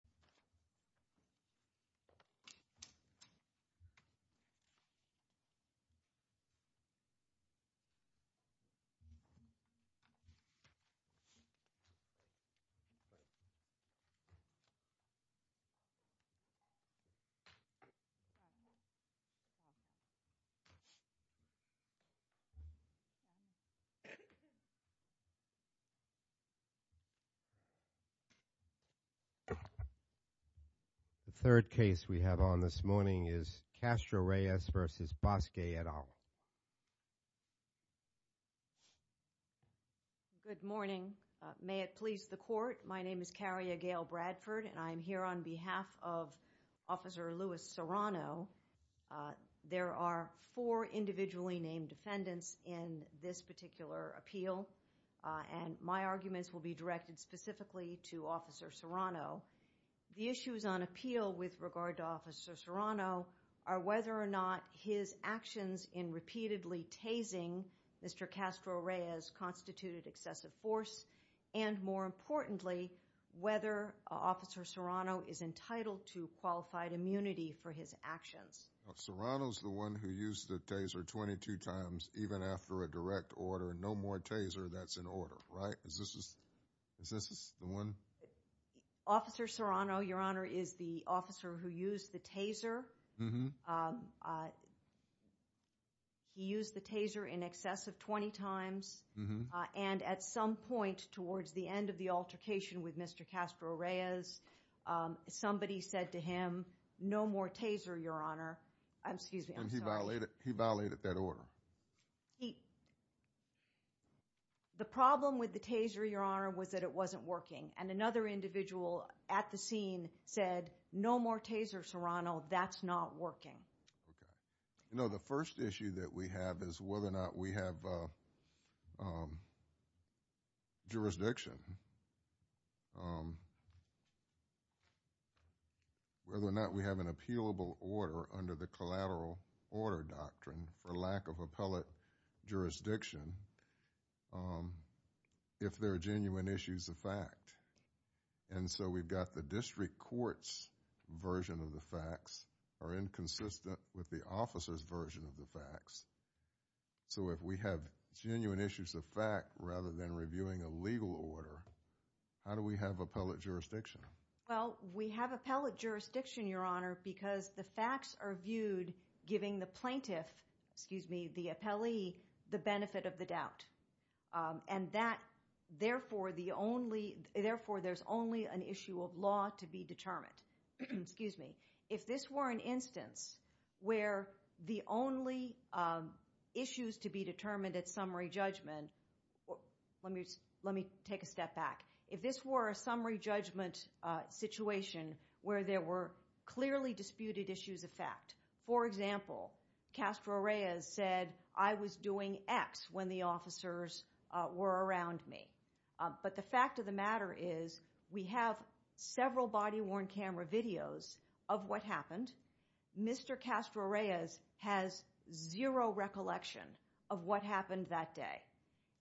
in the United States and around the world. American Civil Liberties Union. The third case we have on this morning is Castro-Reyes v. Bosque et al. Good morning. May it please the court, my name is Caria Gail Bradford and I am here on behalf of Officer Louis Serrano. There are four individually named defendants in this particular appeal and my arguments will be directed specifically to Officer Serrano. The issues on appeal with regard to Officer Serrano are whether or not his actions in repeatedly tasing Mr. Castro-Reyes constituted excessive force and, more importantly, whether Officer Serrano is entitled to qualified immunity for his actions. Serrano's the one who used the taser 22 times even after a direct order. No more taser, that's an order, right? Is this the one? Officer Serrano, Your Honor, is the officer who used the taser. He used the taser in excess of 20 times and at some point towards the end of the altercation with Mr. Castro-Reyes, somebody said to him, no more taser, Your Honor. And he violated that order? No. The problem with the taser, Your Honor, was that it wasn't working. And another individual at the scene said, no more taser, Serrano, that's not working. Okay. You know, the first issue that we have is whether or not we have jurisdiction, whether or not we have an appealable order under the collateral order doctrine for lack of appellate jurisdiction if there are genuine issues of fact. And so, we've got the district court's version of the facts are inconsistent with the officer's version of the facts. So, if we have genuine issues of fact rather than reviewing a legal order, how do we have appellate jurisdiction? Well, we have appellate jurisdiction, Your Honor, because the facts are viewed giving the plaintiff, excuse me, the appellee, the benefit of the doubt. And therefore, there's only an issue of law to be determined. Excuse me. If this were an instance where the only issues to be determined at summary judgment, let me take a step back. If this were a summary judgment situation where there were clearly disputed issues of fact, for example, Castro Reyes said, I was doing X when the officers were around me. But the fact of the matter is we have several body-worn camera videos of what happened. Mr. Castro Reyes has zero recollection of what happened that day.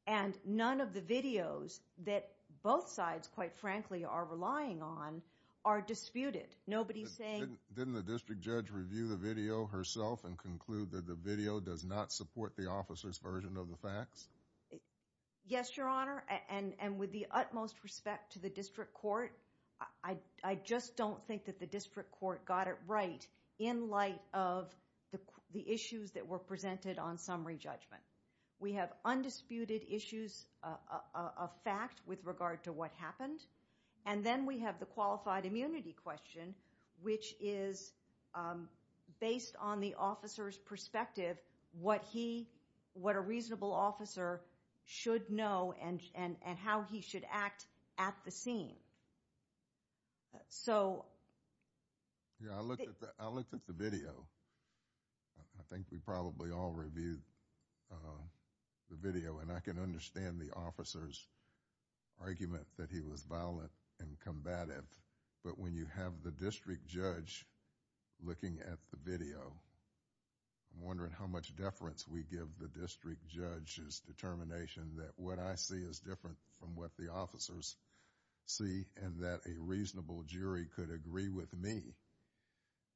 And none of the videos that both sides, quite frankly, are relying on are disputed. Nobody's saying... Did the plaintiff review herself and conclude that the video does not support the officer's version of the facts? Yes, Your Honor, and with the utmost respect to the district court, I just don't think that the district court got it right in light of the issues that were presented on summary judgment. We have undisputed issues of fact with regard to what happened, and then we have the qualified immunity question, which is based on the officer's perspective, what a reasonable officer should know and how he should act at the scene. So... I looked at the video. I think we probably all reviewed the video, and I can understand the officer's argument that he was violent and combative. But when you have the district judge looking at the video, I'm wondering how much deference we give the district judge's determination that what I see is different from what the officers see, and that a reasonable jury could agree with me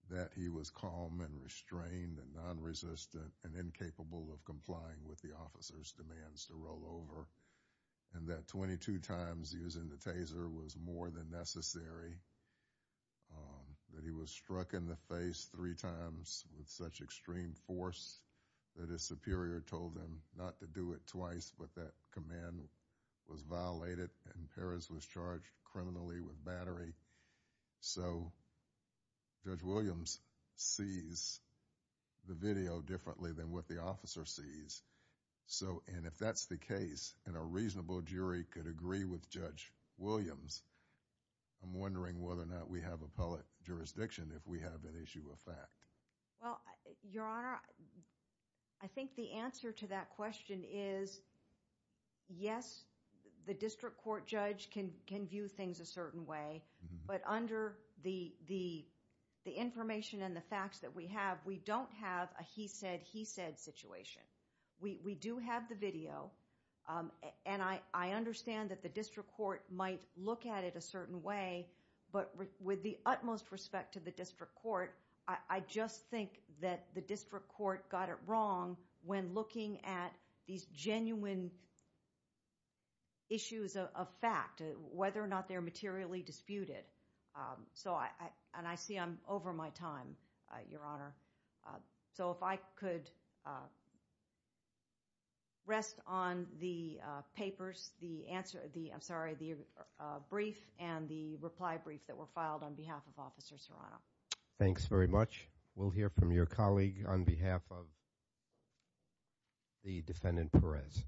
that he was calm and restrained and nonresistant and incapable of complying with the officer's demands to roll over, and that 22 times using the taser was more than necessary, that he was struck in the face three times with such extreme force that his superior told him not to do it twice, but that command was violated and Perez was charged criminally with battery. So Judge Williams sees the video differently than what the officer sees. And if that's the case and a reasonable jury could agree with Judge Williams, I'm wondering whether or not we have appellate jurisdiction if we have an issue of fact. Well, Your Honor, I think the answer to that question is, yes, the district court judge can view things a certain way, but under the information and the facts that we have, we don't have a he said, he said situation. We do have the video, and I understand that the district court might look at it a certain way, but with the utmost respect to the district court, I just think that the district court got it wrong when looking at these genuine issues of fact, whether or not they're materially disputed. So I and I see I'm over my time, Your Honor. So if I could rest on the papers, the answer, the I'm sorry, the brief and the reply brief that were filed on behalf of Officer Serrano. Thanks very much. We'll hear from your colleague on behalf of the defendant Perez.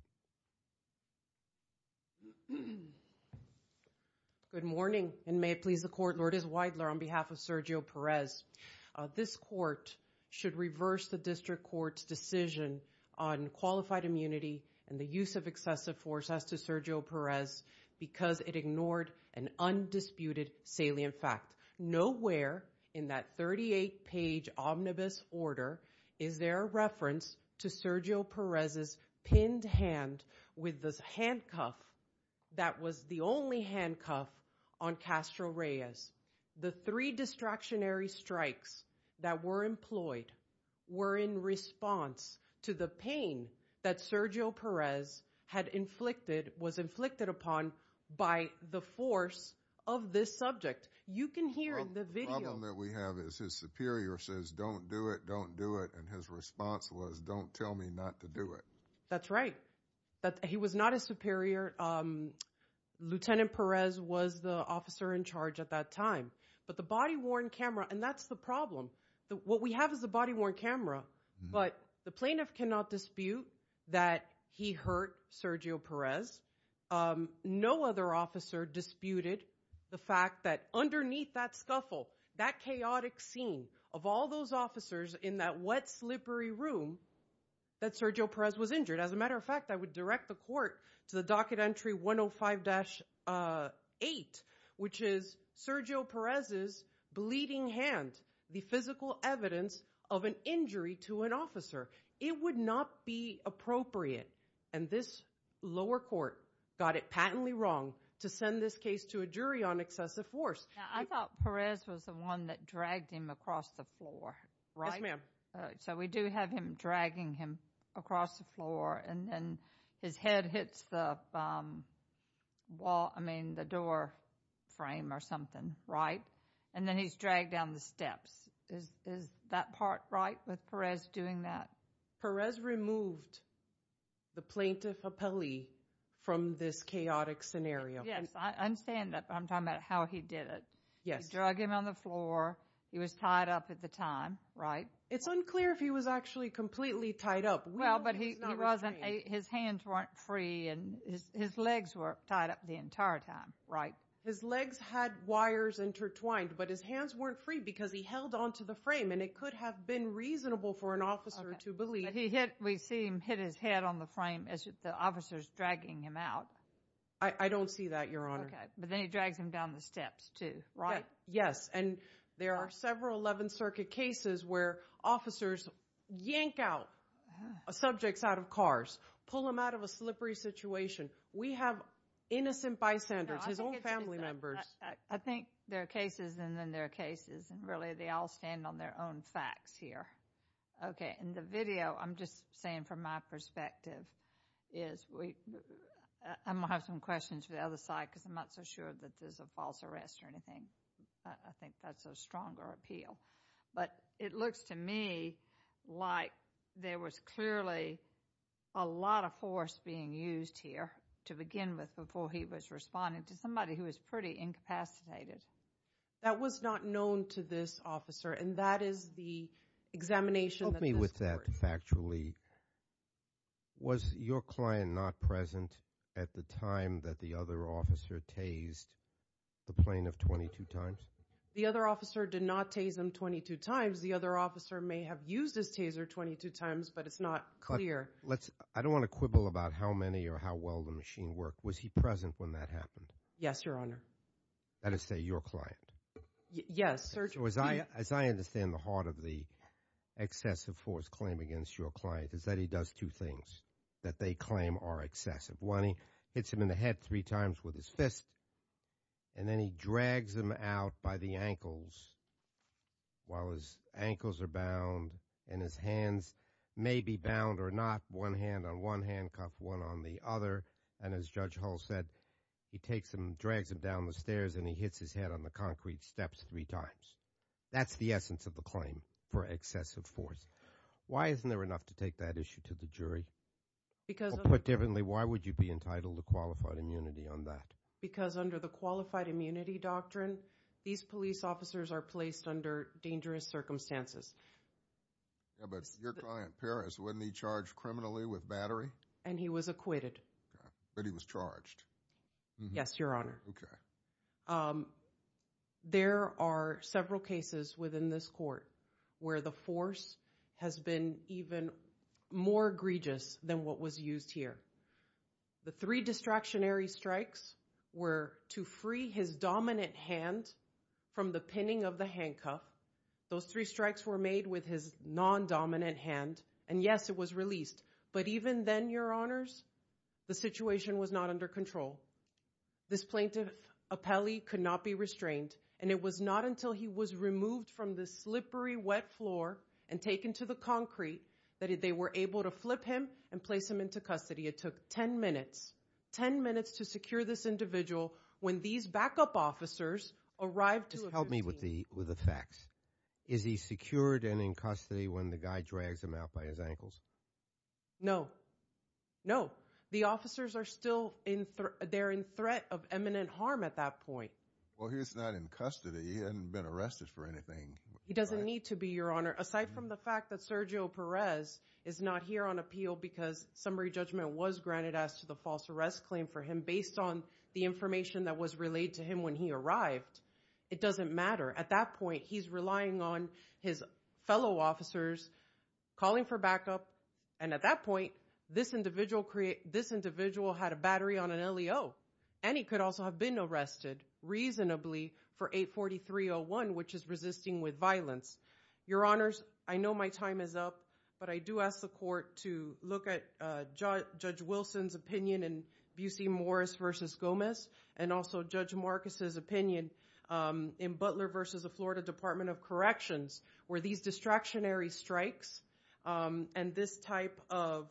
Good morning. And may it please the court. Lord is widely on behalf of Sergio Perez. This court should reverse the district court's decision on qualified immunity and the use of excessive force as to Sergio Perez, because it ignored an undisputed salient fact. Nowhere in that 38 page omnibus order. Is there a reference to Sergio Perez's pinned hand with this handcuff? That was the only handcuff on Castro Reyes. The three distractionary strikes that were employed were in response to the pain that Sergio Perez had inflicted, was inflicted upon by the force of this subject. You can hear the video that we have is his superior says, don't do it, don't do it. And his response was, don't tell me not to do it. That's right. That he was not a superior. Lieutenant Perez was the officer in charge at that time. But the body worn camera and that's the problem. What we have is a body worn camera. But the plaintiff cannot dispute that he hurt Sergio Perez. No other officer disputed the fact that underneath that scuffle, that chaotic scene of all those officers in that wet, slippery room that Sergio Perez was injured. As a matter of fact, I would direct the court to the docket entry 105-8, which is Sergio Perez's bleeding hand, the physical evidence of an injury to an officer. It would not be appropriate. And this lower court got it patently wrong to send this case to a jury on excessive force. I thought Perez was the one that dragged him across the floor. Right, ma'am. So we do have him dragging him across the floor. And then his head hits the wall. I mean, the door frame or something. Right. And then he's dragged down the steps. Is that part right with Perez doing that? Perez removed the plaintiff appellee from this chaotic scenario. Yes, I understand that. But I'm talking about how he did it. Yes. He dragged him on the floor. He was tied up at the time, right? It's unclear if he was actually completely tied up. Well, but he wasn't. His hands weren't free. And his legs were tied up the entire time, right? His legs had wires intertwined. But his hands weren't free because he held onto the frame. And it could have been reasonable for an officer to believe. But we see him hit his head on the frame as the officer is dragging him out. I don't see that, Your Honor. Okay. But then he drags him down the steps too, right? Yes. And there are several 11th Circuit cases where officers yank out subjects out of cars, pull them out of a slippery situation. We have innocent bystanders, his own family members. I think there are cases and then there are cases. And really they all stand on their own facts here. In the video, I'm just saying from my perspective, I'm going to have some questions for the other side because I'm not so sure that this is a false arrest or anything. I think that's a stronger appeal. But it looks to me like there was clearly a lot of force being used here to begin with before he was responding to somebody who was pretty incapacitated. That was not known to this officer and that is the examination that this court— Help me with that factually. Was your client not present at the time that the other officer tased the plane of 22 times? The other officer did not tase him 22 times. The other officer may have used his taser 22 times, but it's not clear. I don't want to quibble about how many or how well the machine worked. Was he present when that happened? Yes, Your Honor. That is to say your client? As I understand the heart of the excessive force claim against your client is that he does two things that they claim are excessive. One, he hits him in the head three times with his fist, and then he drags him out by the ankles while his ankles are bound and his hands may be bound or not, one hand on one handcuff, one on the other. And as Judge Hull said, he takes him, drags him down the stairs and he hits his head on the concrete steps three times. That's the essence of the claim for excessive force. Why isn't there enough to take that issue to the jury? Because— Or put differently, why would you be entitled to qualified immunity on that? Because under the qualified immunity doctrine, these police officers are placed under dangerous circumstances. Yeah, but your client Paris, wasn't he charged criminally with battery? And he was acquitted. But he was charged. Yes, Your Honor. Okay. There are several cases within this court where the force has been even more egregious than what was used here. The three distractionary strikes were to free his dominant hand from the pinning of the handcuff. Those three strikes were made with his non-dominant hand, and yes, it was released. But even then, Your Honors, the situation was not under control. This plaintiff, Apelli, could not be restrained. And it was not until he was removed from the slippery wet floor and taken to the concrete that they were able to flip him and place him into custody. It took ten minutes, ten minutes to secure this individual when these backup officers arrived to— Just help me with the facts. Is he secured and in custody when the guy drags him out by his ankles? No. No. The officers are still in—they're in threat of imminent harm at that point. Well, he's not in custody. He hasn't been arrested for anything. He doesn't need to be, Your Honor. Aside from the fact that Sergio Perez is not here on appeal because summary judgment was granted as to the false arrest claim for him based on the information that was relayed to him when he arrived, it doesn't matter. At that point, he's relying on his fellow officers calling for backup, and at that point, this individual had a battery on an LEO. And he could also have been arrested reasonably for 843-01, which is resisting with violence. Your Honors, I know my time is up, but I do ask the court to look at Judge Wilson's opinion in Busey Morris v. Gomez and also Judge Marcus' opinion in Butler v. the Florida Department of Corrections where these distractionary strikes and this type of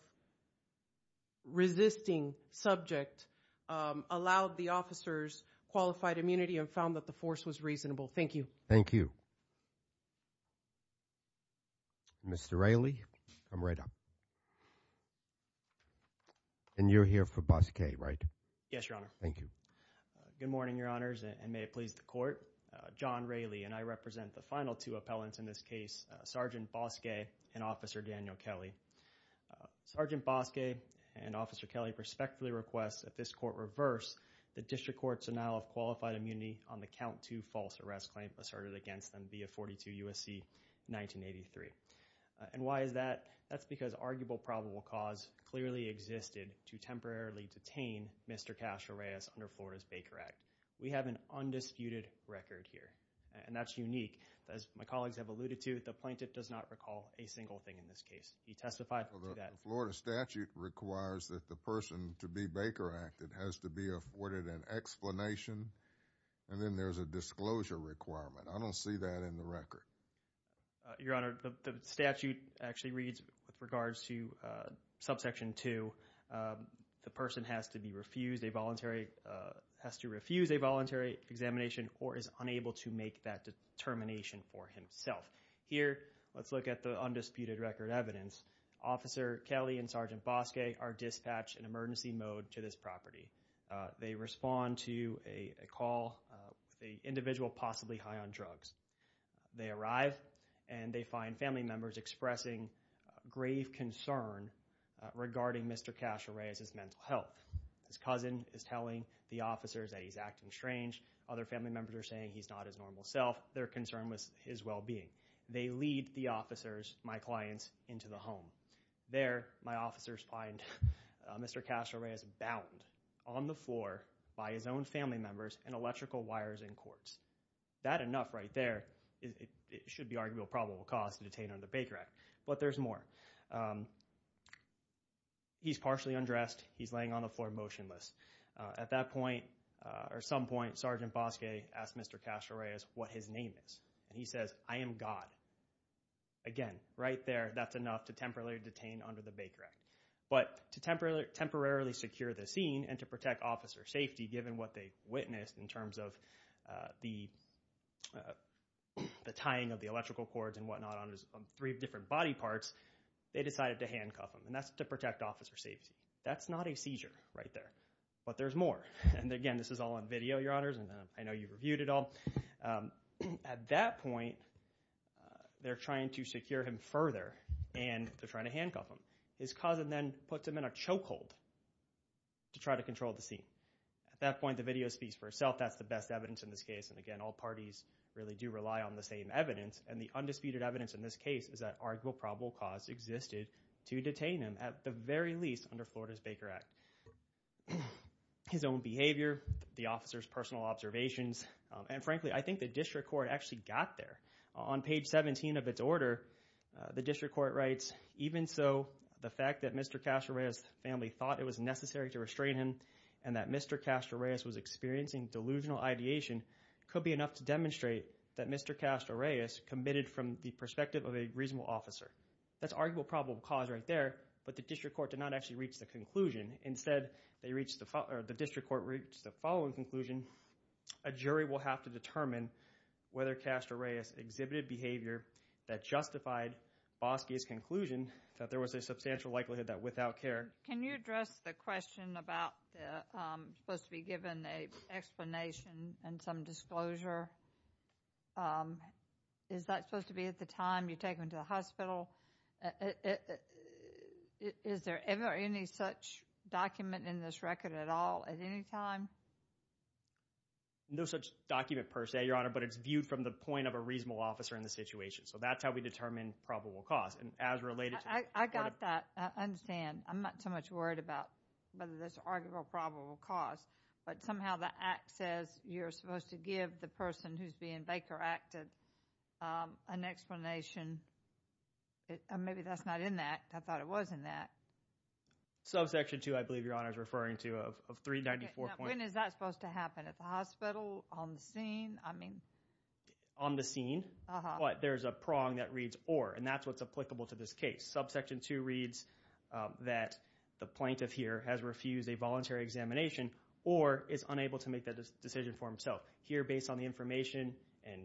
resisting subject allowed the officers qualified immunity and found that the force was reasonable. Thank you. Thank you. Mr. Raley, come right up. And you're here for Bosque, right? Yes, Your Honor. Thank you. Good morning, Your Honors, and may it please the court. John Raley, and I represent the final two appellants in this case, Sergeant Bosque and Officer Daniel Kelly. Sergeant Bosque and Officer Kelly prospectively request that this court reverse the district court's denial of qualified immunity on the count to false arrest claim asserted against them via 42 U.S.C. 1983. And why is that? That's because arguable probable cause clearly existed to temporarily detain Mr. Castro Reyes under Florida's Baker Act. We have an undisputed record here, and that's unique. As my colleagues have alluded to, the plaintiff does not recall a single thing in this case. He testified to that. Well, the Florida statute requires that the person to be Baker Acted has to be afforded an explanation, and then there's a disclosure requirement. I don't see that in the record. Your Honor, the statute actually reads with regards to subsection 2, the person has to be refused a voluntary, has to refuse a voluntary examination or is unable to make that determination for himself. Here, let's look at the undisputed record evidence. Officer Kelly and Sergeant Bosque are dispatched in emergency mode to this property. They respond to a call with an individual possibly high on drugs. They arrive, and they find family members expressing grave concern regarding Mr. Castro Reyes' mental health. His cousin is telling the officers that he's acting strange. Other family members are saying he's not his normal self. It's not their concern with his well-being. They lead the officers, my clients, into the home. There, my officers find Mr. Castro Reyes bound on the floor by his own family members and electrical wires and cords. That enough right there. It should be arguably a probable cause to detain under Baker Act, but there's more. He's partially undressed. He's laying on the floor motionless. At that point or some point, Sergeant Bosque asks Mr. Castro Reyes what his name is, and he says, I am God. Again, right there, that's enough to temporarily detain under the Baker Act. But to temporarily secure the scene and to protect officer safety, given what they witnessed in terms of the tying of the electrical cords and whatnot on three different body parts, they decided to handcuff him. And that's to protect officer safety. That's not a seizure right there, but there's more. And again, this is all on video, Your Honors, and I know you've reviewed it all. At that point, they're trying to secure him further, and they're trying to handcuff him. His cousin then puts him in a chokehold to try to control the scene. At that point, the video speaks for itself. That's the best evidence in this case. And again, all parties really do rely on the same evidence. And the undisputed evidence in this case is that arguable probable cause existed to detain him, at the very least, under Florida's Baker Act. His own behavior, the officer's personal observations, and frankly, I think the district court actually got there. On page 17 of its order, the district court writes, even so, the fact that Mr. Castro Reyes' family thought it was necessary to restrain him and that Mr. Castro Reyes was experiencing delusional ideation could be enough to demonstrate that Mr. Castro Reyes committed from the perspective of a reasonable officer. That's arguable probable cause right there, but the district court did not actually reach the conclusion. Instead, the district court reached the following conclusion. A jury will have to determine whether Castro Reyes exhibited behavior that justified Boski's conclusion that there was a substantial likelihood that without care. Can you address the question about supposed to be given an explanation and some disclosure? Is that supposed to be at the time you take him to the hospital? Is there ever any such document in this record at all at any time? No such document per se, Your Honor, but it's viewed from the point of a reasonable officer in the situation. So that's how we determine probable cause. I got that. I'm not so much worried about whether that's arguable probable cause, but somehow the act says you're supposed to give the person who's being Baker acted an explanation. Maybe that's not in that. I thought it was in that. Subsection 2, I believe Your Honor is referring to, of 394. When is that supposed to happen? At the hospital? On the scene? I mean. On the scene. But there's a prong that reads or, and that's what's applicable to this case. Subsection 2 reads that the plaintiff here has refused a voluntary examination or is unable to make that decision for himself. Here, based on the information and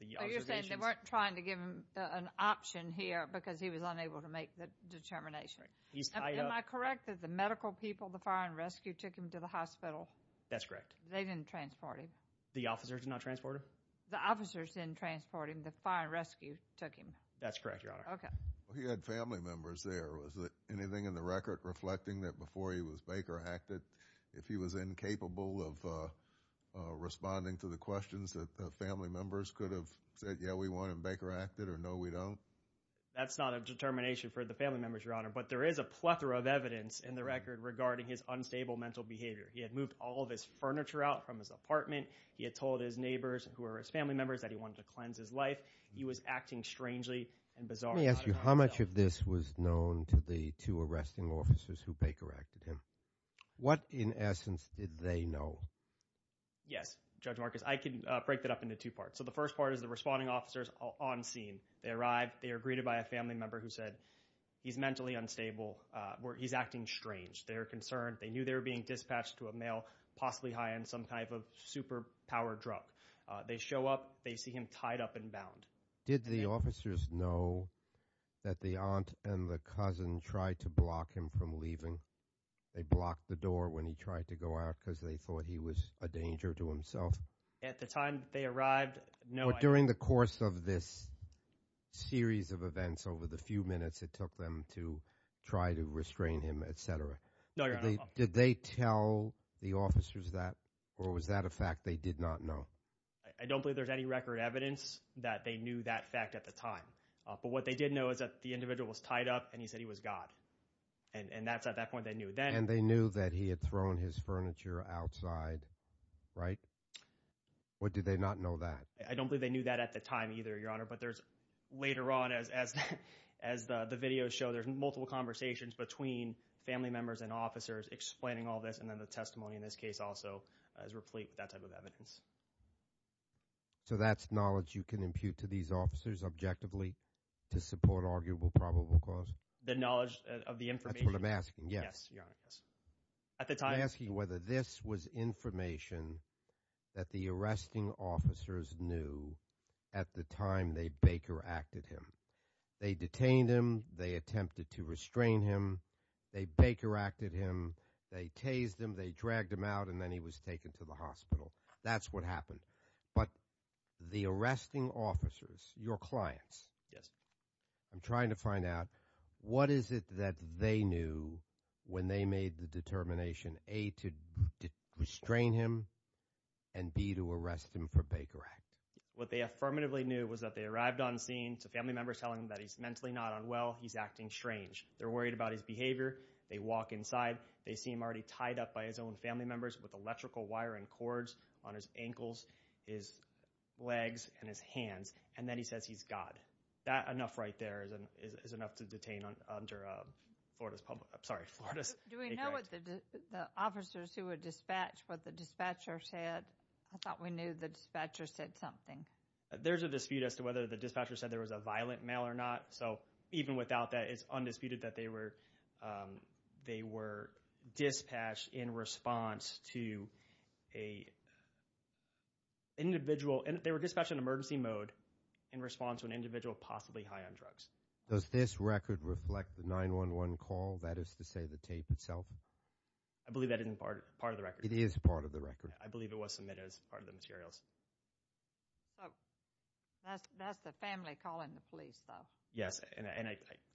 the observation. You're saying they weren't trying to give him an option here because he was unable to make the determination. Am I correct that the medical people, the fire and rescue, took him to the hospital? That's correct. They didn't transport him? The officers did not transport him? The officers didn't transport him. The fire and rescue took him. That's correct, Your Honor. Okay. He had family members there. Was there anything in the record reflecting that before he was Baker acted, if he was incapable of responding to the questions that the family members could have said, yeah, we want him Baker acted or no, we don't? That's not a determination for the family members, Your Honor. But there is a plethora of evidence in the record regarding his unstable mental behavior. He had moved all of his furniture out from his apartment. He had told his neighbors who were his family members that he wanted to cleanse his life. He was acting strangely and bizarrely. Let me ask you, how much of this was known to the two arresting officers who Baker acted him? What, in essence, did they know? Yes, Judge Marcus, I can break that up into two parts. So the first part is the responding officers on scene. They arrive. They are greeted by a family member who said he's mentally unstable or he's acting strange. They're concerned. They knew they were being dispatched to a male, possibly high on some type of superpower drug. They show up. They see him tied up and bound. Did the officers know that the aunt and the cousin tried to block him from leaving? They blocked the door when he tried to go out because they thought he was a danger to himself? At the time they arrived, no idea. But during the course of this series of events over the few minutes it took them to try to restrain him, et cetera. No, Your Honor. Did they tell the officers that or was that a fact they did not know? I don't believe there's any record evidence that they knew that fact at the time. But what they did know is that the individual was tied up and he said he was God. And that's at that point they knew. And they knew that he had thrown his furniture outside, right? Or did they not know that? I don't believe they knew that at the time either, Your Honor. But there's later on as the videos show, there's multiple conversations between family members and officers explaining all this and then the testimony in this case also is replete with that type of evidence. So that's knowledge you can impute to these officers objectively to support arguable probable cause? The knowledge of the information. That's what I'm asking, yes. Yes, Your Honor. I'm asking whether this was information that the arresting officers knew at the time they Baker acted him. They detained him. They attempted to restrain him. They Baker acted him. They tased him. They dragged him out, and then he was taken to the hospital. That's what happened. But the arresting officers, your clients. Yes. I'm trying to find out what is it that they knew when they made the determination, A, to restrain him, and B, to arrest him for Baker act? What they affirmatively knew was that they arrived on scene to family members telling them that he's mentally not unwell. He's acting strange. They're worried about his behavior. They walk inside. They see him already tied up by his own family members with electrical wire and cords on his ankles, his legs, and his hands. And then he says he's God. That enough right there is enough to detain under Florida's public, I'm sorry, Florida's. Do we know what the officers who were dispatched, what the dispatcher said? I thought we knew the dispatcher said something. There's a dispute as to whether the dispatcher said there was a violent male or not. So even without that, it's undisputed that they were dispatched in response to an individual. They were dispatched in emergency mode in response to an individual possibly high on drugs. Does this record reflect the 911 call, that is to say the tape itself? I believe that isn't part of the record. It is part of the record. I believe it was submitted as part of the materials. So that's the family calling the police, though? Yes.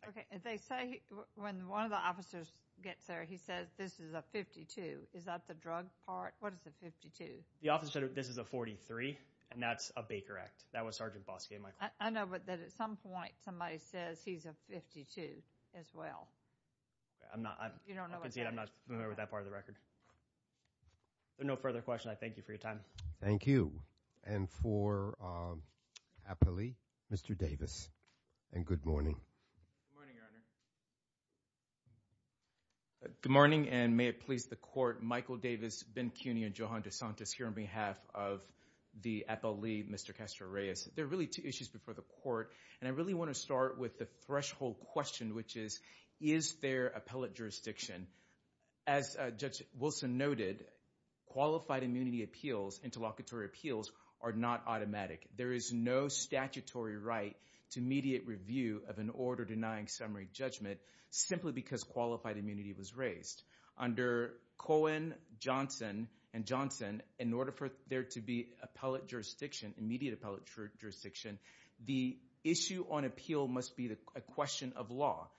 Okay. They say when one of the officers gets there, he says this is a 52. Is that the drug part? What is a 52? The officer said this is a 43, and that's a Baker Act. That was Sergeant Bosque, Michael. I know, but at some point, somebody says he's a 52 as well. I'm not. You don't know what that is? I'm not familiar with that part of the record. No further questions. I thank you for your time. Thank you. And for Appellee, Mr. Davis, and good morning. Good morning, Your Honor. Good morning, and may it please the Court, Michael Davis, Ben Cuney, and Johan DeSantis here on behalf of the appellee, Mr. Castro-Reyes. There are really two issues before the Court, and I really want to start with the threshold question, which is, is there appellate jurisdiction? As Judge Wilson noted, qualified immunity appeals, interlocutory appeals, are not automatic. There is no statutory right to immediate review of an order denying summary judgment simply because qualified immunity was raised. Under Cohen, Johnson, and Johnson, in order for there to be appellate jurisdiction, immediate appellate jurisdiction, the issue on appeal must be a question of law.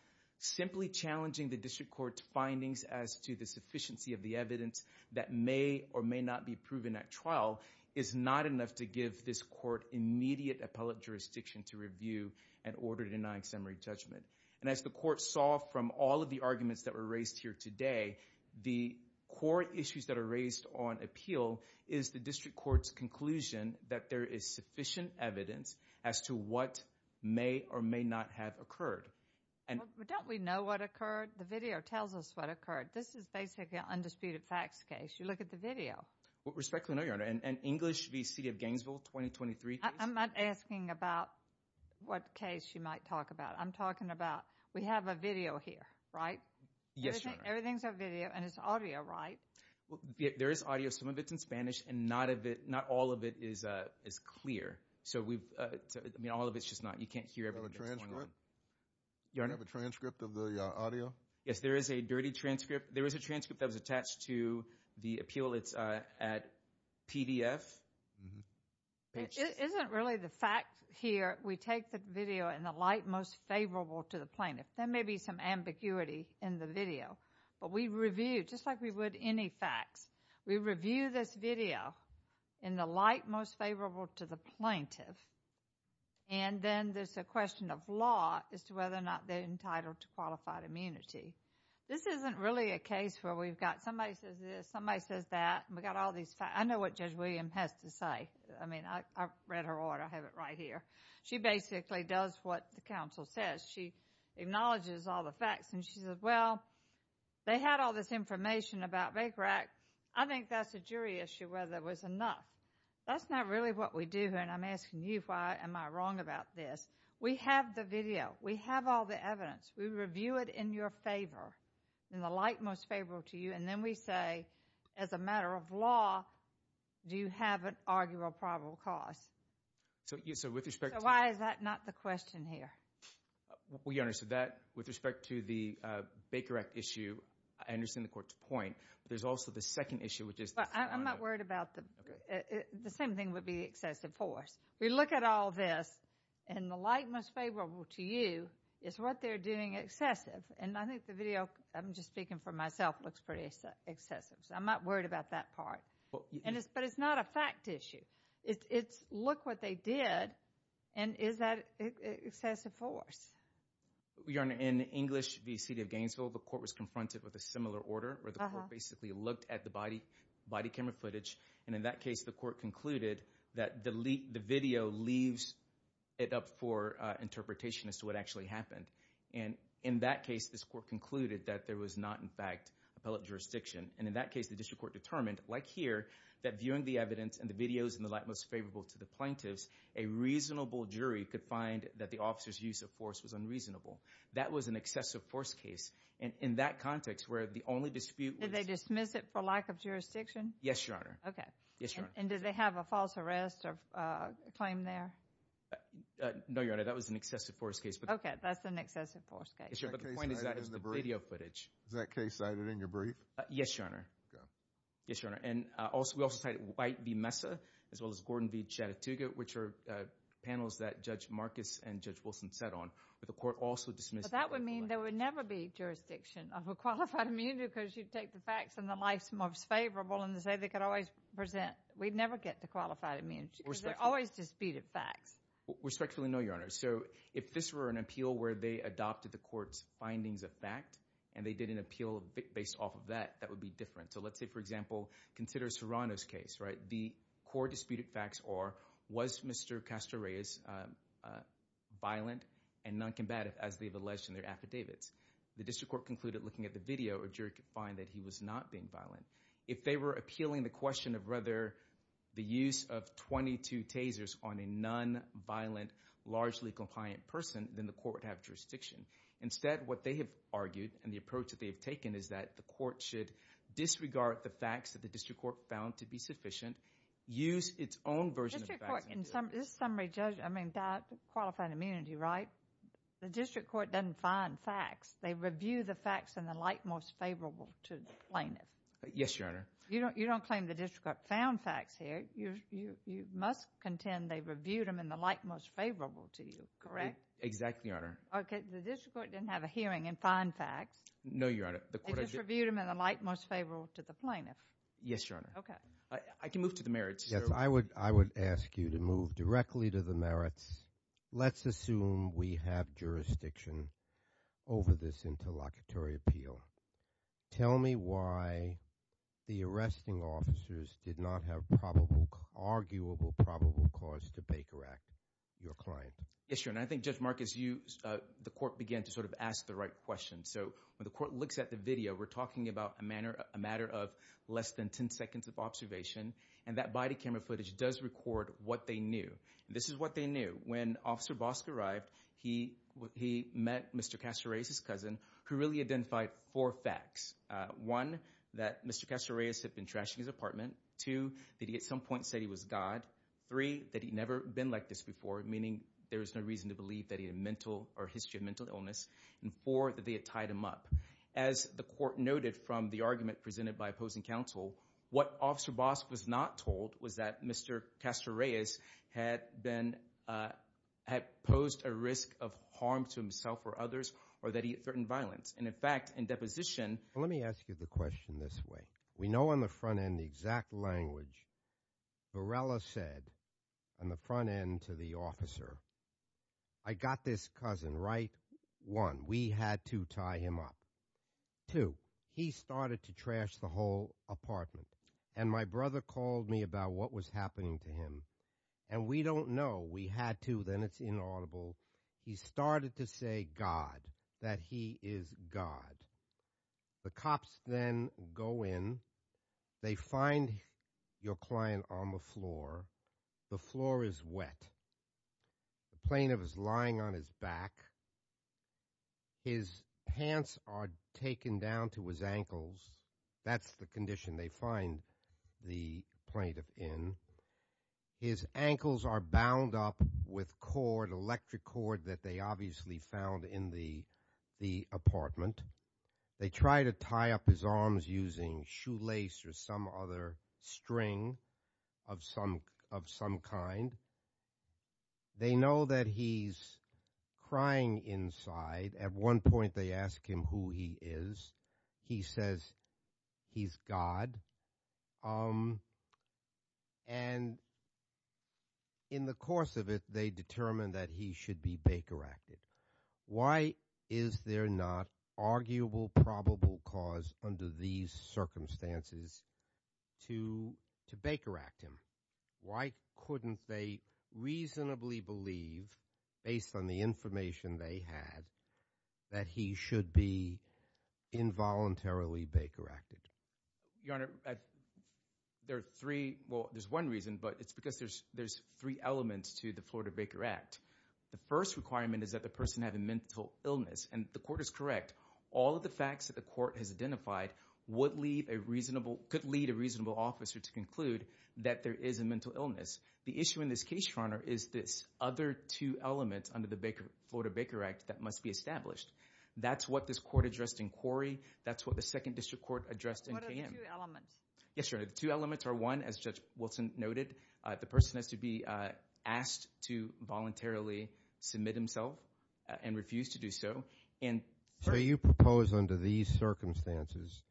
Simply challenging the district court's findings as to the sufficiency of the evidence that may or may not be proven at trial is not enough to give this court immediate appellate jurisdiction to review an order denying summary judgment. And as the Court saw from all of the arguments that were raised here today, the core issues that are raised on appeal is the district court's conclusion that there is sufficient evidence as to what may or may not have occurred. Well, don't we know what occurred? The video tells us what occurred. This is basically an undisputed facts case. You look at the video. With respect, Your Honor, an English v. City of Gainesville, 2023 case. I'm not asking about what case you might talk about. I'm talking about we have a video here, right? Yes, Your Honor. Everything's a video, and it's audio, right? There is audio. Some of it's in Spanish, and not all of it is clear. I mean, all of it's just not. You can't hear everything that's going on. Your Honor? Do you have a transcript of the audio? Yes, there is a dirty transcript. There is a transcript that was attached to the appeal. It's at PDF. It isn't really the fact here we take the video in the light most favorable to the plaintiff. There may be some ambiguity in the video, but we review, just like we would any facts, we review this video in the light most favorable to the plaintiff, and then there's a question of law as to whether or not they're entitled to qualified immunity. This isn't really a case where we've got somebody says this, somebody says that, and we've got all these facts. I know what Judge William has to say. I mean, I've read her order. I have it right here. She basically does what the counsel says. She acknowledges all the facts, and she says, Well, they had all this information about Baker Act. I think that's a jury issue whether it was enough. That's not really what we do here, and I'm asking you why am I wrong about this. We have the video. We have all the evidence. We review it in your favor, in the light most favorable to you, and then we say as a matter of law, do you have an arguable probable cause? So with respect to So why is that not the question here? Well, you understood that. With respect to the Baker Act issue, I understand the court's point, but there's also the second issue, which is I'm not worried about the same thing would be excessive force. We look at all this, and the light most favorable to you is what they're doing excessive, and I think the video, I'm just speaking for myself, looks pretty excessive, so I'm not worried about that part, but it's not a fact issue. Look what they did, and is that excessive force? Your Honor, in English v. City of Gainesville, the court was confronted with a similar order where the court basically looked at the body camera footage, and in that case, the court concluded that the video leaves it up for interpretation as to what actually happened, and in that case, this court concluded that there was not, in fact, appellate jurisdiction, and in that case, the district court determined, like here, that viewing the evidence and the videos in the light most favorable to the plaintiffs, a reasonable jury could find that the officer's use of force was unreasonable. That was an excessive force case. In that context, where the only dispute was— Did they dismiss it for lack of jurisdiction? Yes, Your Honor. Okay. Yes, Your Honor. And did they have a false arrest claim there? No, Your Honor, that was an excessive force case. Okay, that's an excessive force case. But the point is that it's the video footage. Is that case cited in your brief? Yes, Your Honor. Okay. Yes, Your Honor. And we also cited White v. Mesa as well as Gordon v. Chattatooga, which are panels that Judge Marcus and Judge Wilson sat on, but the court also dismissed— But that would mean there would never be jurisdiction of a qualified immunity because you'd take the facts and the life's most favorable and say they could always present—we'd never get to qualified immunity because they're always disputed facts. Respectfully, no, Your Honor. So if this were an appeal where they adopted the court's findings of fact and they did an appeal based off of that, that would be different. So let's say, for example, consider Serrano's case, right? The court disputed facts or was Mr. Castro Reyes violent and noncombative as they've alleged in their affidavits? The district court concluded looking at the video or jury could find that he was not being violent. If they were appealing the question of whether the use of 22 tasers on a nonviolent, largely compliant person, then the court would have jurisdiction. Instead, what they have argued and the approach that they have taken is that the court should disregard the facts that the district court found to be sufficient, use its own version of facts— District court, in this summary, Judge, I mean, qualified immunity, right? The district court doesn't find facts. They review the facts and the like most favorable to the plaintiff. Yes, Your Honor. You don't claim the district court found facts here. You must contend they reviewed them and the like most favorable to you, correct? Exactly, Your Honor. Okay, the district court didn't have a hearing and find facts. No, Your Honor. They just reviewed them and the like most favorable to the plaintiff. Yes, Your Honor. Okay. I can move to the merits. Yes, I would ask you to move directly to the merits. Let's assume we have jurisdiction over this interlocutory appeal. Tell me why the arresting officers did not have probable, arguable probable cause to Baker Act your client. Yes, Your Honor. I think, Judge Marcus, the court began to sort of ask the right questions. So when the court looks at the video, we're talking about a matter of less than 10 seconds of observation, and that body camera footage does record what they knew. This is what they knew. When Officer Bosk arrived, he met Mr. Cacereas, his cousin, who really identified four facts. One, that Mr. Cacereas had been trashing his apartment. Two, that he at some point said he was God. Three, that he'd never been like this before, meaning there was no reason to believe that he had mental or a history of mental illness. And four, that they had tied him up. As the court noted from the argument presented by opposing counsel, what Officer Bosk was not told was that Mr. Cacereas had posed a risk of harm to himself or others or that he had threatened violence. And, in fact, in deposition – Let me ask you the question this way. We know on the front end the exact language. Varela said on the front end to the officer, I got this cousin right. One, we had to tie him up. Two, he started to trash the whole apartment, and my brother called me about what was happening to him, and we don't know. We had to, then it's inaudible. He started to say God, that he is God. The cops then go in. They find your client on the floor. The floor is wet. The plaintiff is lying on his back. His pants are taken down to his ankles. That's the condition they find the plaintiff in. His ankles are bound up with cord, electric cord, that they obviously found in the apartment. They try to tie up his arms using shoelace or some other string of some kind. They know that he's crying inside. At one point they ask him who he is. He says he's God. And in the course of it, they determine that he should be bakeracted. Why is there not arguable probable cause under these circumstances to bakeract him? Why couldn't they reasonably believe, based on the information they had, that he should be involuntarily bakeracted? Your Honor, there are three, well, there's one reason, but it's because there's three elements to the Florida Baker Act. The first requirement is that the person have a mental illness, and the court is correct. All of the facts that the court has identified could lead a reasonable officer to conclude that there is a mental illness. The issue in this case, Your Honor, is this other two elements under the Florida Baker Act that must be established. That's what this court addressed in Quarry. That's what the Second District Court addressed in KM. What are the two elements? Yes, Your Honor, the two elements are, one, as Judge Wilson noted, the person has to be asked to voluntarily submit himself and refuse to do so. So you propose under these circumstances,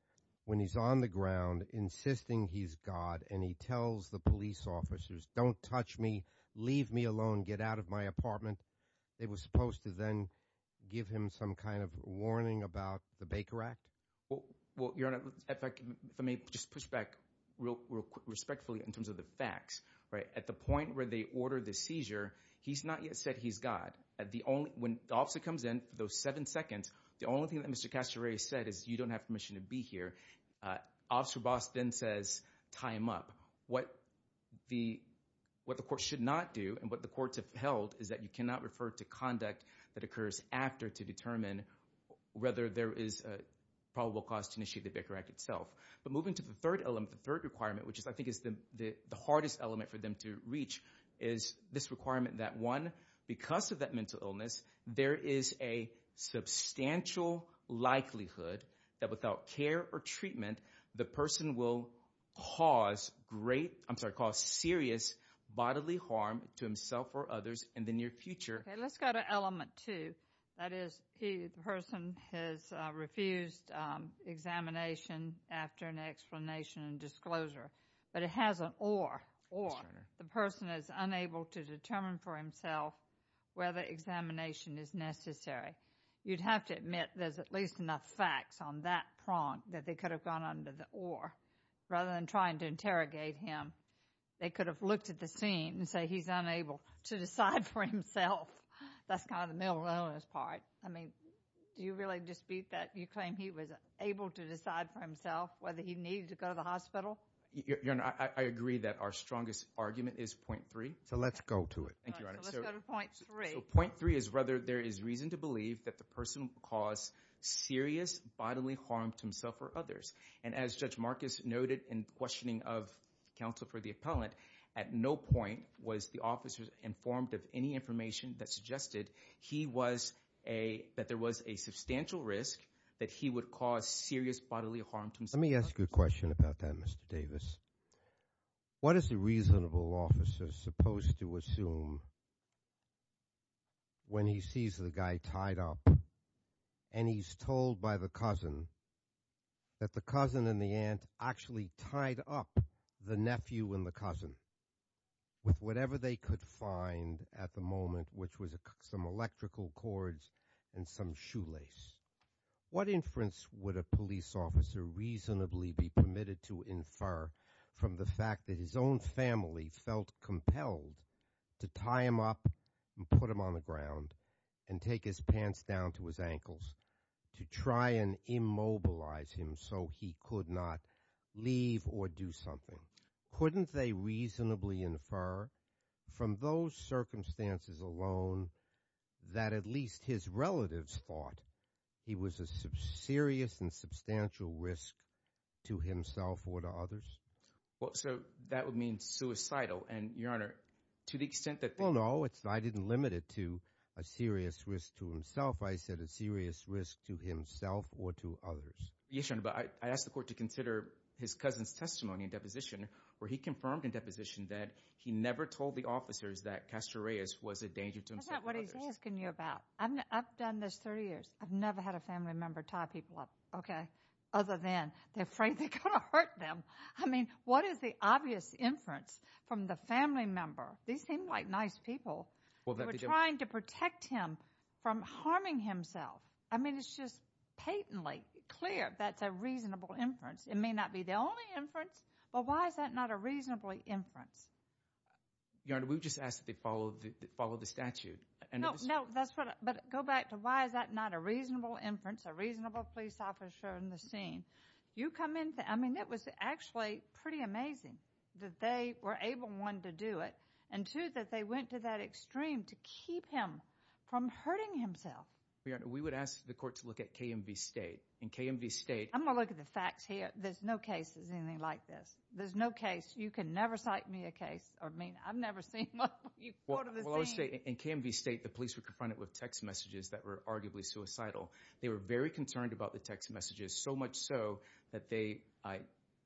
when he's on the ground insisting he's God and he tells the police officers, don't touch me, leave me alone, get out of my apartment, they were supposed to then give him some kind of warning about the Baker Act? Well, Your Honor, if I may just push back real respectfully in terms of the facts, right? At the point where they order the seizure, he's not yet said he's God. When the officer comes in for those seven seconds, the only thing that Mr. Castore said is you don't have permission to be here. Officer Boss then says, tie him up. What the court should not do and what the courts have held is that you cannot refer to conduct that occurs after to determine whether there is a probable cause to initiate the Baker Act itself. But moving to the third element, the third requirement, which I think is the hardest element for them to reach is this requirement that one, because of that mental illness, there is a substantial likelihood that without care or treatment, the person will cause great... I'm sorry, cause serious bodily harm to himself or others in the near future. Okay, let's go to element two. That is, the person has refused examination after an explanation and disclosure, but it has an or, or. The person is unable to determine for himself whether examination is necessary. You'd have to admit there's at least enough facts on that prong that they could have gone under the or rather than trying to interrogate him. They could have looked at the scene and say he's unable to decide for himself. That's kind of the mental illness part. I mean, do you really dispute that? You claim he was able to decide for himself whether he needed to go to the hospital? Your Honor, I agree that our strongest argument is point three. So let's go to it. Thank you, Your Honor. So let's go to point three. Point three is whether there is reason to believe that the person will cause serious bodily harm to himself or others. And as Judge Marcus noted in questioning of counsel for the appellant, at no point was the officer informed of any information that suggested that there was a substantial risk that he would cause serious bodily harm to himself or others. Let me ask you a question about that, Mr. Davis. What is a reasonable officer supposed to assume when he sees the guy tied up and he's told by the cousin that the cousin and the aunt actually tied up the nephew and the cousin with whatever they could find at the moment, which was some electrical cords and some shoelace? What inference would a police officer reasonably be permitted to infer from the fact that his own family felt compelled to tie him up and put him on the ground and take his pants down to his ankles to try and immobilize him so he could not leave or do something? Couldn't they reasonably infer from those circumstances alone that at least his relatives thought he was a serious and substantial risk to himself or to others? Well, so that would mean suicidal. And, Your Honor, to the extent that they... Well, no, I didn't limit it to a serious risk to himself. I said a serious risk to himself or to others. Yes, Your Honor, but I asked the court to consider his cousin's testimony in deposition, where he confirmed in deposition that he never told the officers that Castor Reyes was a danger to himself or others. That's not what he's asking you about. I've done this 30 years. I've never had a family member tie people up, okay, other than they're afraid they're going to hurt them. I mean, what is the obvious inference from the family member? These seem like nice people. They were trying to protect him from harming himself. I mean, it's just patently clear that that's a reasonable inference. It may not be the only inference, but why is that not a reasonable inference? Your Honor, we've just asked that they follow the statute. No, no, that's what... But go back to why is that not a reasonable inference, a reasonable police officer in the scene? You come in... I mean, it was actually pretty amazing that they were able, one, to do it, and, two, that they went to that extreme to keep him from hurting himself. Your Honor, we would ask the court to look at KMV State. In KMV State... I'm going to look at the facts here. There's no case that's anything like this. There's no case. You can never cite me a case. I mean, I've never seen one. Well, I'll just say, in KMV State, the police were confronted with text messages that were arguably suicidal. They were very concerned about the text messages, so much so that they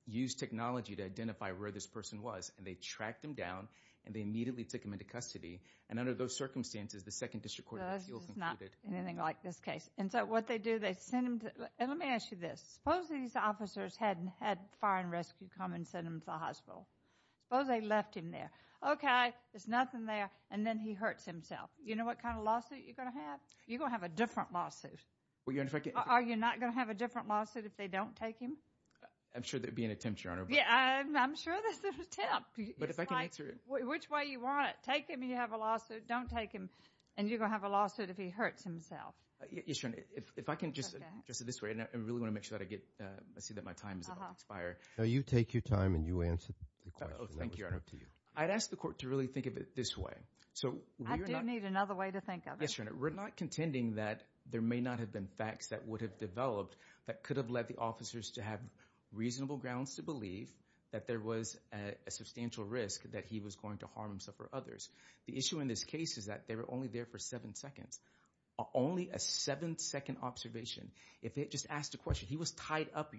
used technology to identify where this person was, and they tracked him down, and they immediately took him into custody, and under those circumstances, the Second District Court of Appeals concluded... Let me ask you this. Suppose these officers hadn't had Fire and Rescue come and send him to the hospital. Suppose they left him there. Okay, there's nothing there, and then he hurts himself. You know what kind of lawsuit you're going to have? You're going to have a different lawsuit. Are you not going to have a different lawsuit if they don't take him? I'm sure there'd be an attempt, Your Honor. I'm sure there's an attempt. Which way you want it. Take him, and you have a lawsuit. Don't take him, and you're going to have a lawsuit if he hurts himself. Yes, Your Honor, if I can just say this way, and I really want to make sure that I get... I see that my time is about to expire. No, you take your time, and you answer the question. Thank you, Your Honor. I'd ask the court to really think of it this way. I do need another way to think of it. Yes, Your Honor. We're not contending that there may not have been facts that would have developed that could have led the officers to have reasonable grounds to believe that there was a substantial risk that he was going to harm himself or others. The issue in this case is that they were only there for seven seconds. Only a seven-second observation. If they had just asked a question, he was tied up,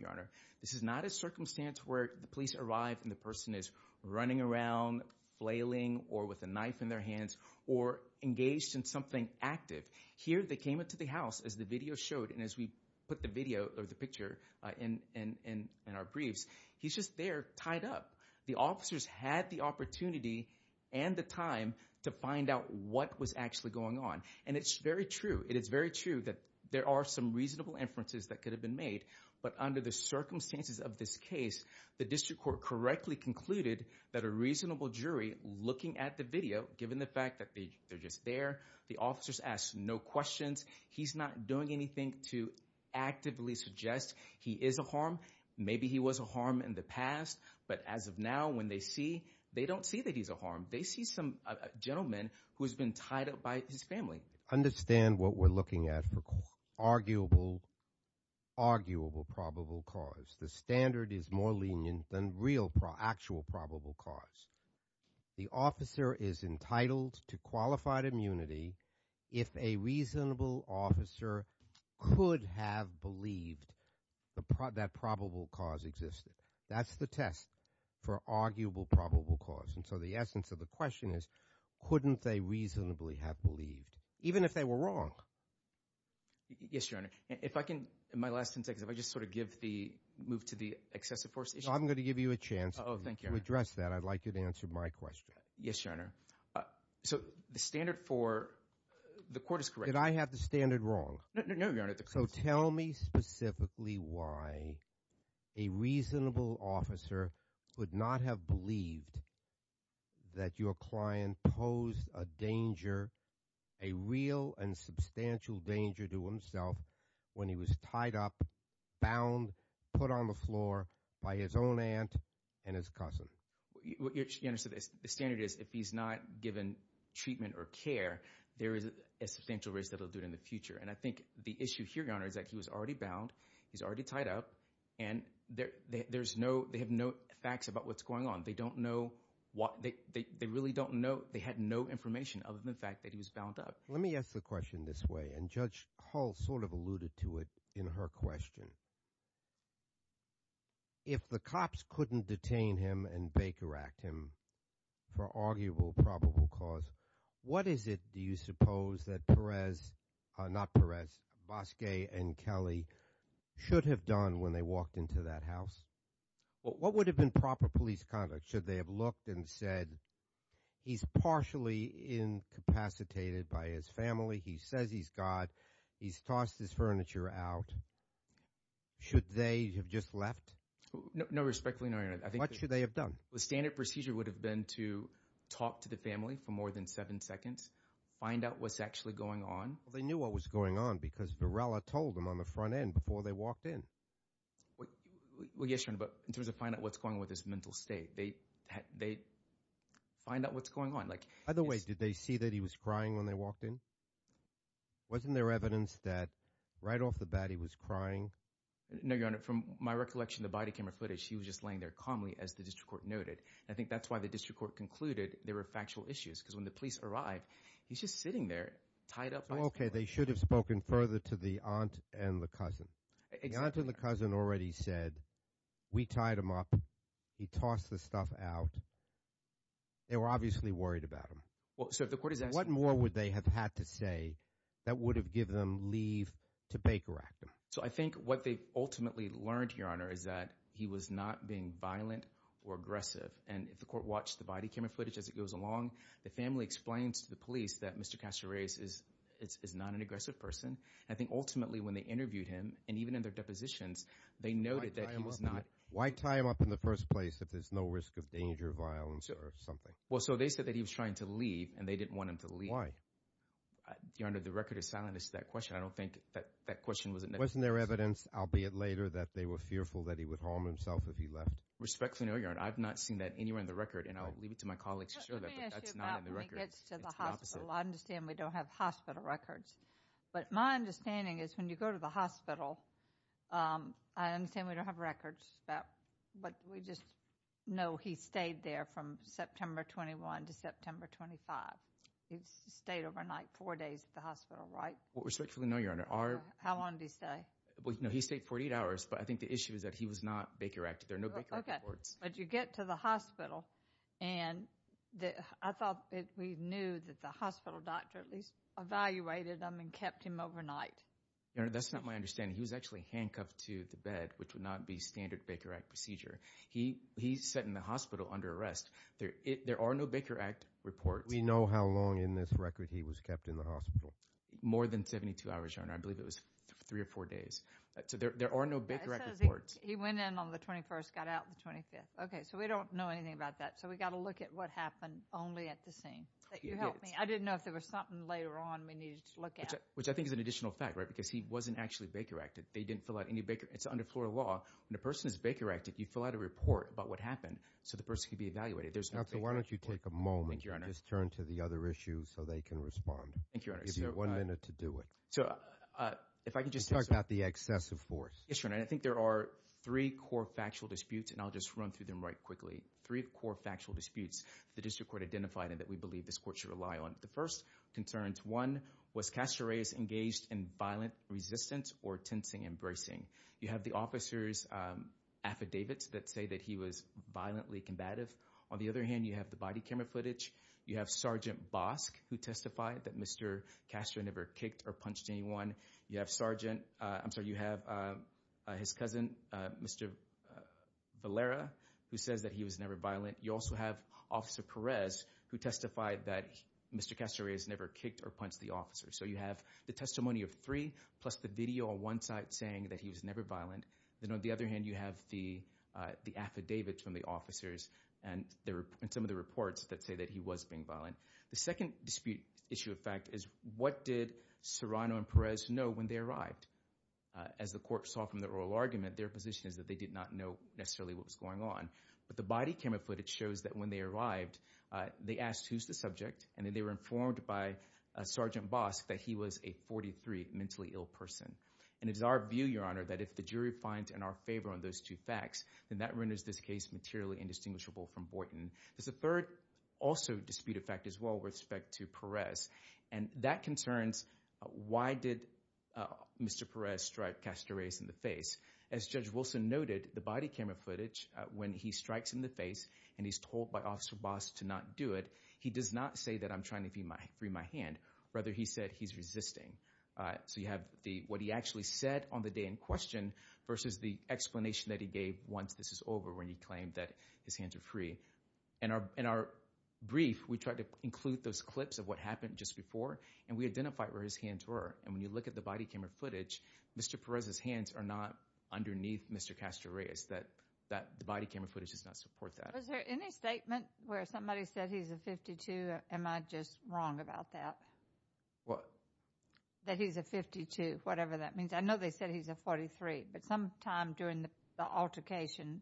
This is not a circumstance where the police arrive, and the person is running around, flailing, or with a knife in their hands, or engaged in something active. Here, they came into the house, as the video showed, and as we put the video, or the picture, in our briefs, he's just there, tied up. The officers had the opportunity and the time to find out what was actually going on. And it's very true. It is very true that there are some reasonable inferences that could have been made, but under the circumstances of this case, the district court correctly concluded that a reasonable jury, looking at the video, given the fact that they're just there, the officers asked no questions. He's not doing anything to actively suggest he is a harm. Maybe he was a harm in the past, but as of now, when they see, they don't see that he's a harm. They see some gentleman who has been tied up by his family. Understand what we're looking at for arguable, arguable probable cause. The standard is more lenient than actual probable cause. The officer is entitled to qualified immunity if a reasonable officer could have believed that probable cause existed. That's the test for arguable probable cause. And so the essence of the question is, couldn't they reasonably have believed, even if they were wrong? Yes, Your Honor. If I can, in my last 10 seconds, if I just sort of move to the excessive force issue. I'm going to give you a chance to address that. I'd like you to answer my question. Yes, Your Honor. The standard for the court is correct. Did I have the standard wrong? No, Your Honor. So tell me specifically why a reasonable officer could not have believed that your client posed a danger, a real and substantial danger to himself when he was tied up, bound, put on the floor by his own aunt and his cousin. Your Honor, the standard is if he's not given treatment or care, there is a substantial risk that he'll do it in the future. And I think the issue here, Your Honor, is that he was already bound, he's already tied up, and they have no facts about what's going on. They really don't know. They had no information other than the fact that he was bound up. Let me ask the question this way, and Judge Hall sort of alluded to it in her question. If the cops couldn't detain him and bakeract him for arguable probable cause, what is it, do you suppose, that Perez, not Perez, Bosque and Kelly should have done when they walked into that house? What would have been proper police conduct? Should they have looked and said he's partially incapacitated by his family, he says he's God, he's tossed his furniture out. Should they have just left? No, respectfully, no, Your Honor. What should they have done? The standard procedure would have been to talk to the family for more than seven seconds, find out what's actually going on. They knew what was going on because Varela told them on the front end before they walked in. Well, yes, Your Honor, but in terms of finding out what's going on with his mental state, they find out what's going on. By the way, did they see that he was crying when they walked in? Wasn't there evidence that right off the bat he was crying? No, Your Honor. From my recollection, the body camera footage, he was just laying there calmly as the district court noted. I think that's why the district court concluded there were factual issues because when the police arrived, he's just sitting there tied up by his family. Okay, they should have spoken further to the aunt and the cousin. The aunt and the cousin already said we tied him up, he tossed the stuff out. They were obviously worried about him. What more would they have had to say that would have given them leave to Baker Act? I think what they ultimately learned, Your Honor, is that he was not being violent or aggressive. If the court watched the body camera footage as it goes along, the family explains to the police that Mr. Casares is not an aggressive person. I think ultimately when they interviewed him, and even in their depositions, they noted that he was not Why tie him up in the first place if there's no risk of danger, violence, or something? Well, so they said that he was trying to leave and they didn't want him to leave. Why? Your Honor, the record is silent as to that question. I don't think that question was Wasn't there evidence, albeit later, that they were fearful that he would harm himself if he left? Respectfully, Your Honor, I've not seen that anywhere in the record and I'll leave it to my colleagues to show that but that's not in the record. Let me ask you about when he gets to the hospital. I understand we don't have hospital records but my understanding is when you go to the hospital I understand we don't have records but we just know he stayed there from September 21 to September 25. He stayed overnight four days at the hospital, right? Respectfully, no, Your Honor. How long did he stay? He stayed 48 hours but I think the issue is that he was not Baker Act. There are no Baker Act reports. But you get to the hospital and I thought that we knew that the hospital doctor at least evaluated him and kept him overnight. Your Honor, that's not my understanding. He was actually handcuffed to the bed, which would not be standard Baker Act procedure. He sat in the hospital under arrest. There are no Baker Act reports. We know how long in this record he was kept in the hospital. More than 72 hours, Your Honor. I believe it was three or four days. So there are no Baker Act reports. He went in on the 21st, got out the 25th. Okay, so we don't know anything about that. So we got to look at what happened only at the scene. I didn't know if there was something later on we needed to look at. Which I think is an additional fact, right? Because he wasn't actually Baker Act. They didn't fill out any Baker. It's under floral law. When a person is Baker Act, you fill out a report about what happened so the person could be evaluated. So why don't you take a moment and just turn to the other issue so they can respond. Thank you, Your Honor. I'll give you one minute to do it. So if I could just talk about the excessive force. Yes, Your Honor. I think there are three core factual disputes, and I'll just run through them right quickly. Three core factual disputes that the District Court identified and that we believe this court should rely on. The first concerns, one, was Castor Reyes engaged in violent resistance or tensing and bracing? You have the officer's affidavits that say that he was violently combative. On the other hand, you have the body camera footage. You have Sergeant Bosk who testified that Mr. Castor never kicked or punched anyone. You have Sergeant, I'm sorry, you have his cousin, Mr. Valera, who says that he was never violent. You also have Officer Perez who testified that Mr. Castor Reyes never kicked or punched the officer. So you have the testimony of three plus the video on one side saying that he was never violent. Then on the other hand, you have the affidavits from the officers and some of the reports that say that he was being violent. The second dispute issue of fact is what did Serrano and Perez know when they arrived? As the court saw from the oral argument, their position is that they did not know necessarily what was going on. But the body camera footage shows that when they arrived, they asked who's the subject and then they were informed by Sergeant Bosk that he was a 43 mentally ill person. And it is our view, Your Honor, that if the jury finds in our favor on those two facts, then that renders this case materially indistinguishable from Boynton. There's a third also dispute of fact as well with respect to Perez. And that concerns why did Mr. Perez strike Castor Reyes in the face? As Judge Wilson noted, the body camera footage, when he strikes in the face and he's told by Officer Bosk to not do it, he does not say that I'm trying to free my hand. Rather he said he's resisting. So you have what he actually said on the day in question versus the explanation that he gave once this is over when he claimed that his hands are free. In our brief, we tried to include those clips of what happened just before and we identified where his hands were. And when you look at the body camera footage, Mr. Perez's hands are not underneath Mr. Castor Reyes. The body camera footage does not support that. Was there any statement where somebody said he's a 52? Am I just wrong about that? What? That he's a 52, whatever that means. I know they said he's a 43, but sometime during the altercation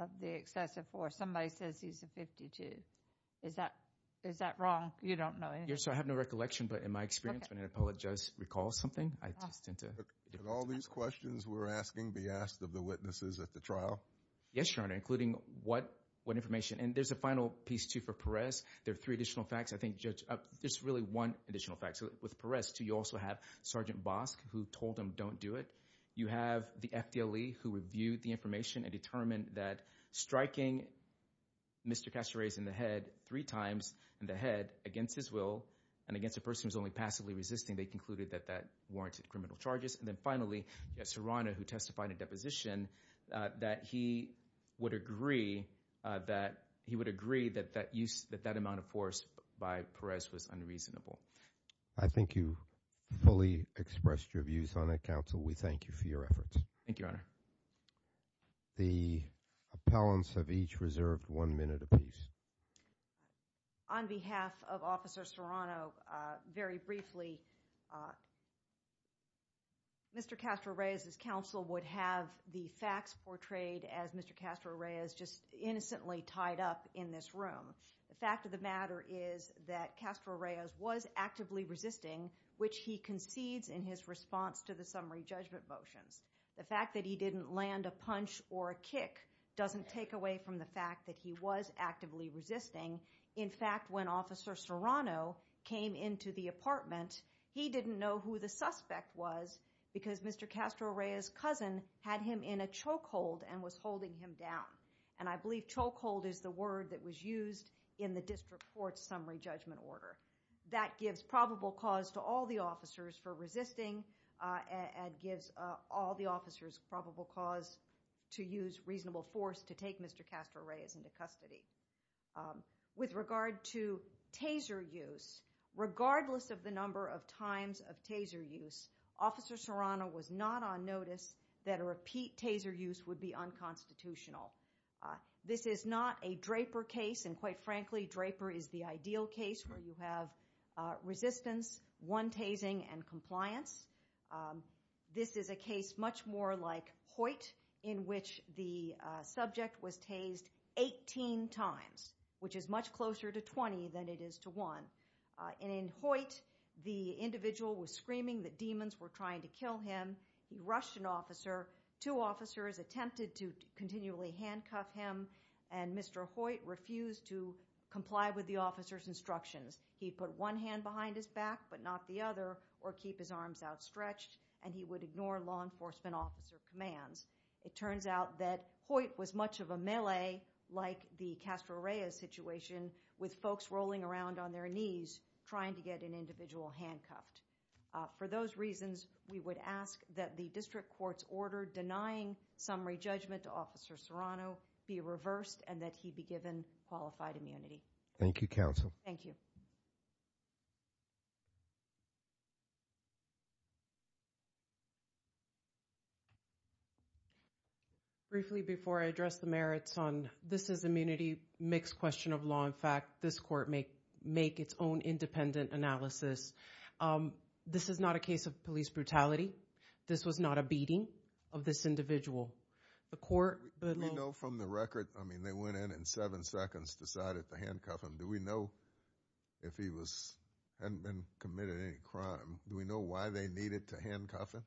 of the excessive force, somebody says he's a 52. Is that wrong? You don't know anything? Yes, I have no recollection, but in my experience when an appellate judge recalls something, I just tend to... Did all these questions we're asking be asked of the witnesses at the trial? Yes, Your Honor, including what information. And there's a final piece too for Perez. There are three additional facts. I think, Judge, there's really one additional fact. With Perez too, you also have Sergeant Bosk who told him don't do it. You have the FDLE who reviewed the information and determined that striking Mr. Castor Reyes in the head three times in the head against his will and against a person who's only passively resisting, they concluded that that warranted criminal charges. And then finally, Serrano who testified in a deposition that he would agree that he would agree that that amount of force by Perez was unreasonable. I think you fully expressed your views on it, Counsel. We thank you for your efforts. Thank you, Your Honor. The appellants have each reserved one minute apiece. On behalf of Officer Serrano, very briefly, Mr. Castor Reyes's counsel would have the facts portrayed as Mr. Castor Reyes just innocently tied up in this room. The fact of the matter is that Castor Reyes was actively resisting, which he concedes in his response to the summary judgment motions. The fact that he didn't land a punch or a kick doesn't take away from the fact that he was actively resisting. In fact, when Officer Serrano came into the apartment, he didn't know who the suspect was because Mr. Castor Reyes's cousin had him in a choke hold and had him down. And I believe choke hold is the word that was used in the District Court's summary judgment order. That gives probable cause to all the officers for resisting and gives all the officers probable cause to use reasonable force to take Mr. Castor Reyes into custody. With regard to taser use, regardless of the number of times of taser use, Officer Serrano was not on notice that a repeat taser use would be unconstitutional. This is not a Draper case, and quite frankly, Draper is the ideal case where you have resistance, one tasing, and compliance. This is a case much more like Hoyt, in which the subject was tased 18 times, which is much closer to 20 than it is to 1. In Hoyt, the individual was screaming that demons were trying to kill him. He rushed an officer. Two officers attempted to continually handcuff him, and Mr. Hoyt refused to comply with the officer's instructions. He'd put one hand behind his back but not the other, or keep his arms outstretched, and he would ignore law enforcement officer commands. It turns out that Hoyt was much of a melee, like the Castor Reyes situation, with folks rolling around on their knees trying to get an individual handcuffed. For those reasons, we would ask that the District Court's order denying summary judgment to Officer Serrano be reversed and that he be given qualified immunity. Thank you, Counsel. Thank you. Briefly, before I address the merits on this is immunity, mixed question of law. In fact, this Court may make its own independent analysis. This is not a case of police brutality. This was not a beating of this individual. Do we know from the record, I mean, they went in and in seven seconds decided to handcuff him. Do we know if he hadn't been committed any crime? Do we know why they needed to handcuff him?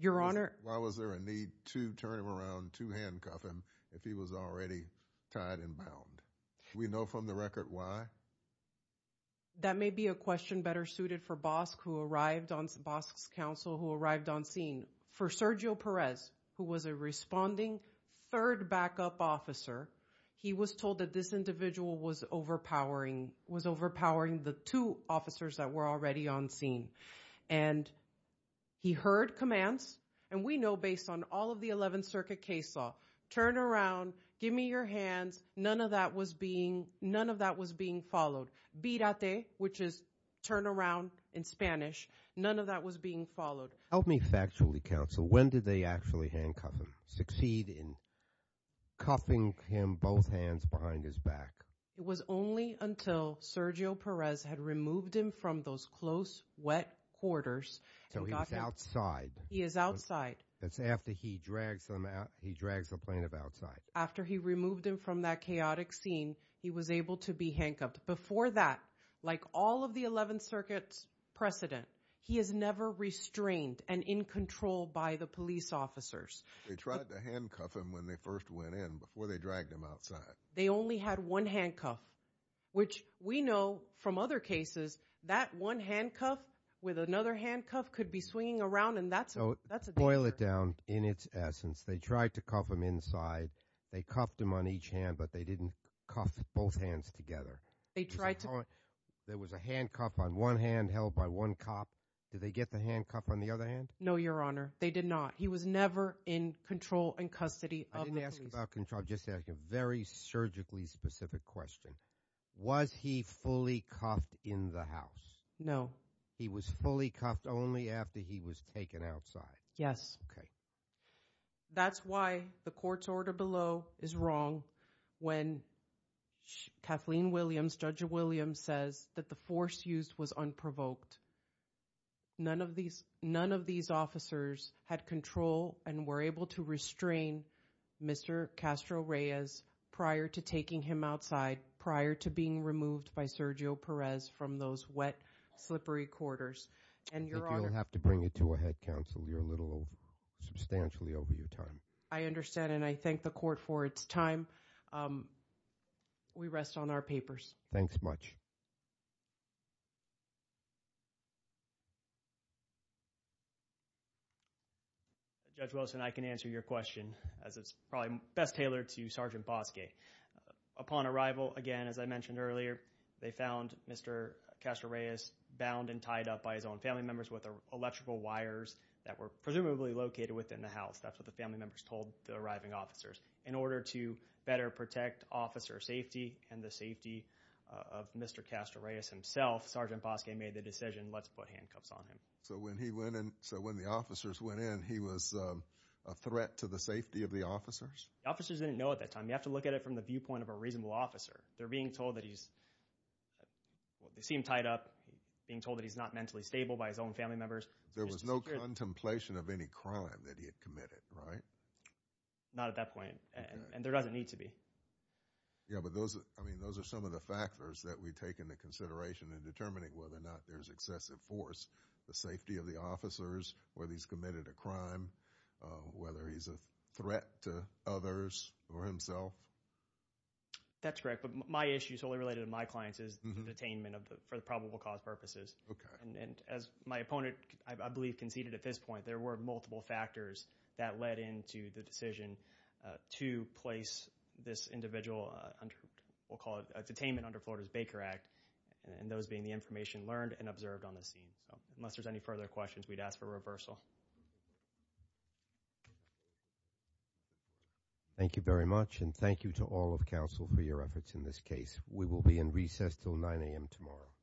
Why was there a need to turn him around, to handcuff him, if he was already tied and bound? Do we know from the record why? That may be a question better suited for Bosk, who arrived on Bosk's counsel, who arrived on scene. For Sergio Perez, who was a responding third backup officer, he was told that this individual was overpowering, was overpowering the two officers that were already on scene. And he heard commands, and we know based on all of the 11th Circuit case law, turn around, give me your hands. None of that was being, none of that was being followed. Virate, which is turn around in Spanish. None of that was being followed. Help me factually counsel, when did they actually handcuff him? Succeed in cuffing him both hands behind his back? It was only until Sergio Perez had removed him from those close, wet quarters. So he was outside. He is outside. That's after he drags him out, he drags the plaintiff outside. After he removed him from that chaotic scene, he was able to be handcuffed. Before that, like all of the 11th Circuit's precedent, he is never restrained and in control by the police officers. They tried to handcuff him when they first went in, before they dragged him outside. They only had one handcuff, which we know from other cases, that one handcuff with another handcuff could be swinging around, and that's a danger. To boil it down, in its essence, they tried to cuff him inside, they cuffed him on each hand, but they didn't cuff both hands together. There was a handcuff on one hand held by one cop. Did they get the handcuff on the other hand? No, Your Honor. They did not. He was never in control and custody of the police. I didn't ask about control, I'm just asking a very surgically specific question. Was he fully cuffed in the house? No. He was fully cuffed only after he was taken outside. That's why the court's order below is wrong when Kathleen Williams, Judge Williams, says that the force used was unprovoked. None of these officers had control and were able to restrain Mr. Castro Reyes prior to taking him outside, prior to being removed by Sergio Perez from those wet, slippery quarters, and Your Honor... I think you'll have to bring it to a head counsel. You're a little substantially over your time. I understand, and I thank the court for its time. We rest on our papers. Thanks much. Judge Wilson, I can answer your question as it's probably best tailored to Sergeant Bosque. Upon arrival, again, as I mentioned earlier, they found Mr. Castro Reyes bound and tied up by his own family members with electrical wires that were presumably located within the house. That's what the family members told the arriving officers. In order to better protect officer safety and the safety of Mr. Castro Reyes himself, Sergeant Bosque made the decision, let's put handcuffs on him. So when the officers went in, he was a threat to the safety of the officers? The officers didn't know at that time. You have to look at it from the viewpoint of a reasonable officer. They're being told that he's... They seem tied up, being told that he's not mentally stable by his own family members. There was no contemplation of any crime that he had committed, right? Not at that point. And there doesn't need to be. Yeah, but those are some of the factors that we take into consideration in determining whether or not there's excessive force, the safety of the officers, whether he's committed a crime, whether he's a threat to others or himself. That's correct, but my issue, solely related to my clients, is detainment for the probable cause purposes. And as my opponent, I believe, conceded at this point, there were multiple factors that led into the decision to place this individual under, we'll call it, detainment under Florida's Baker Act, and those being the information learned and observed on the scene. So unless there's any further questions, we'd ask for reversal. Thank you very much, and thank you to all of counsel for your efforts in this case. We will be in recess until 9 a.m. tomorrow.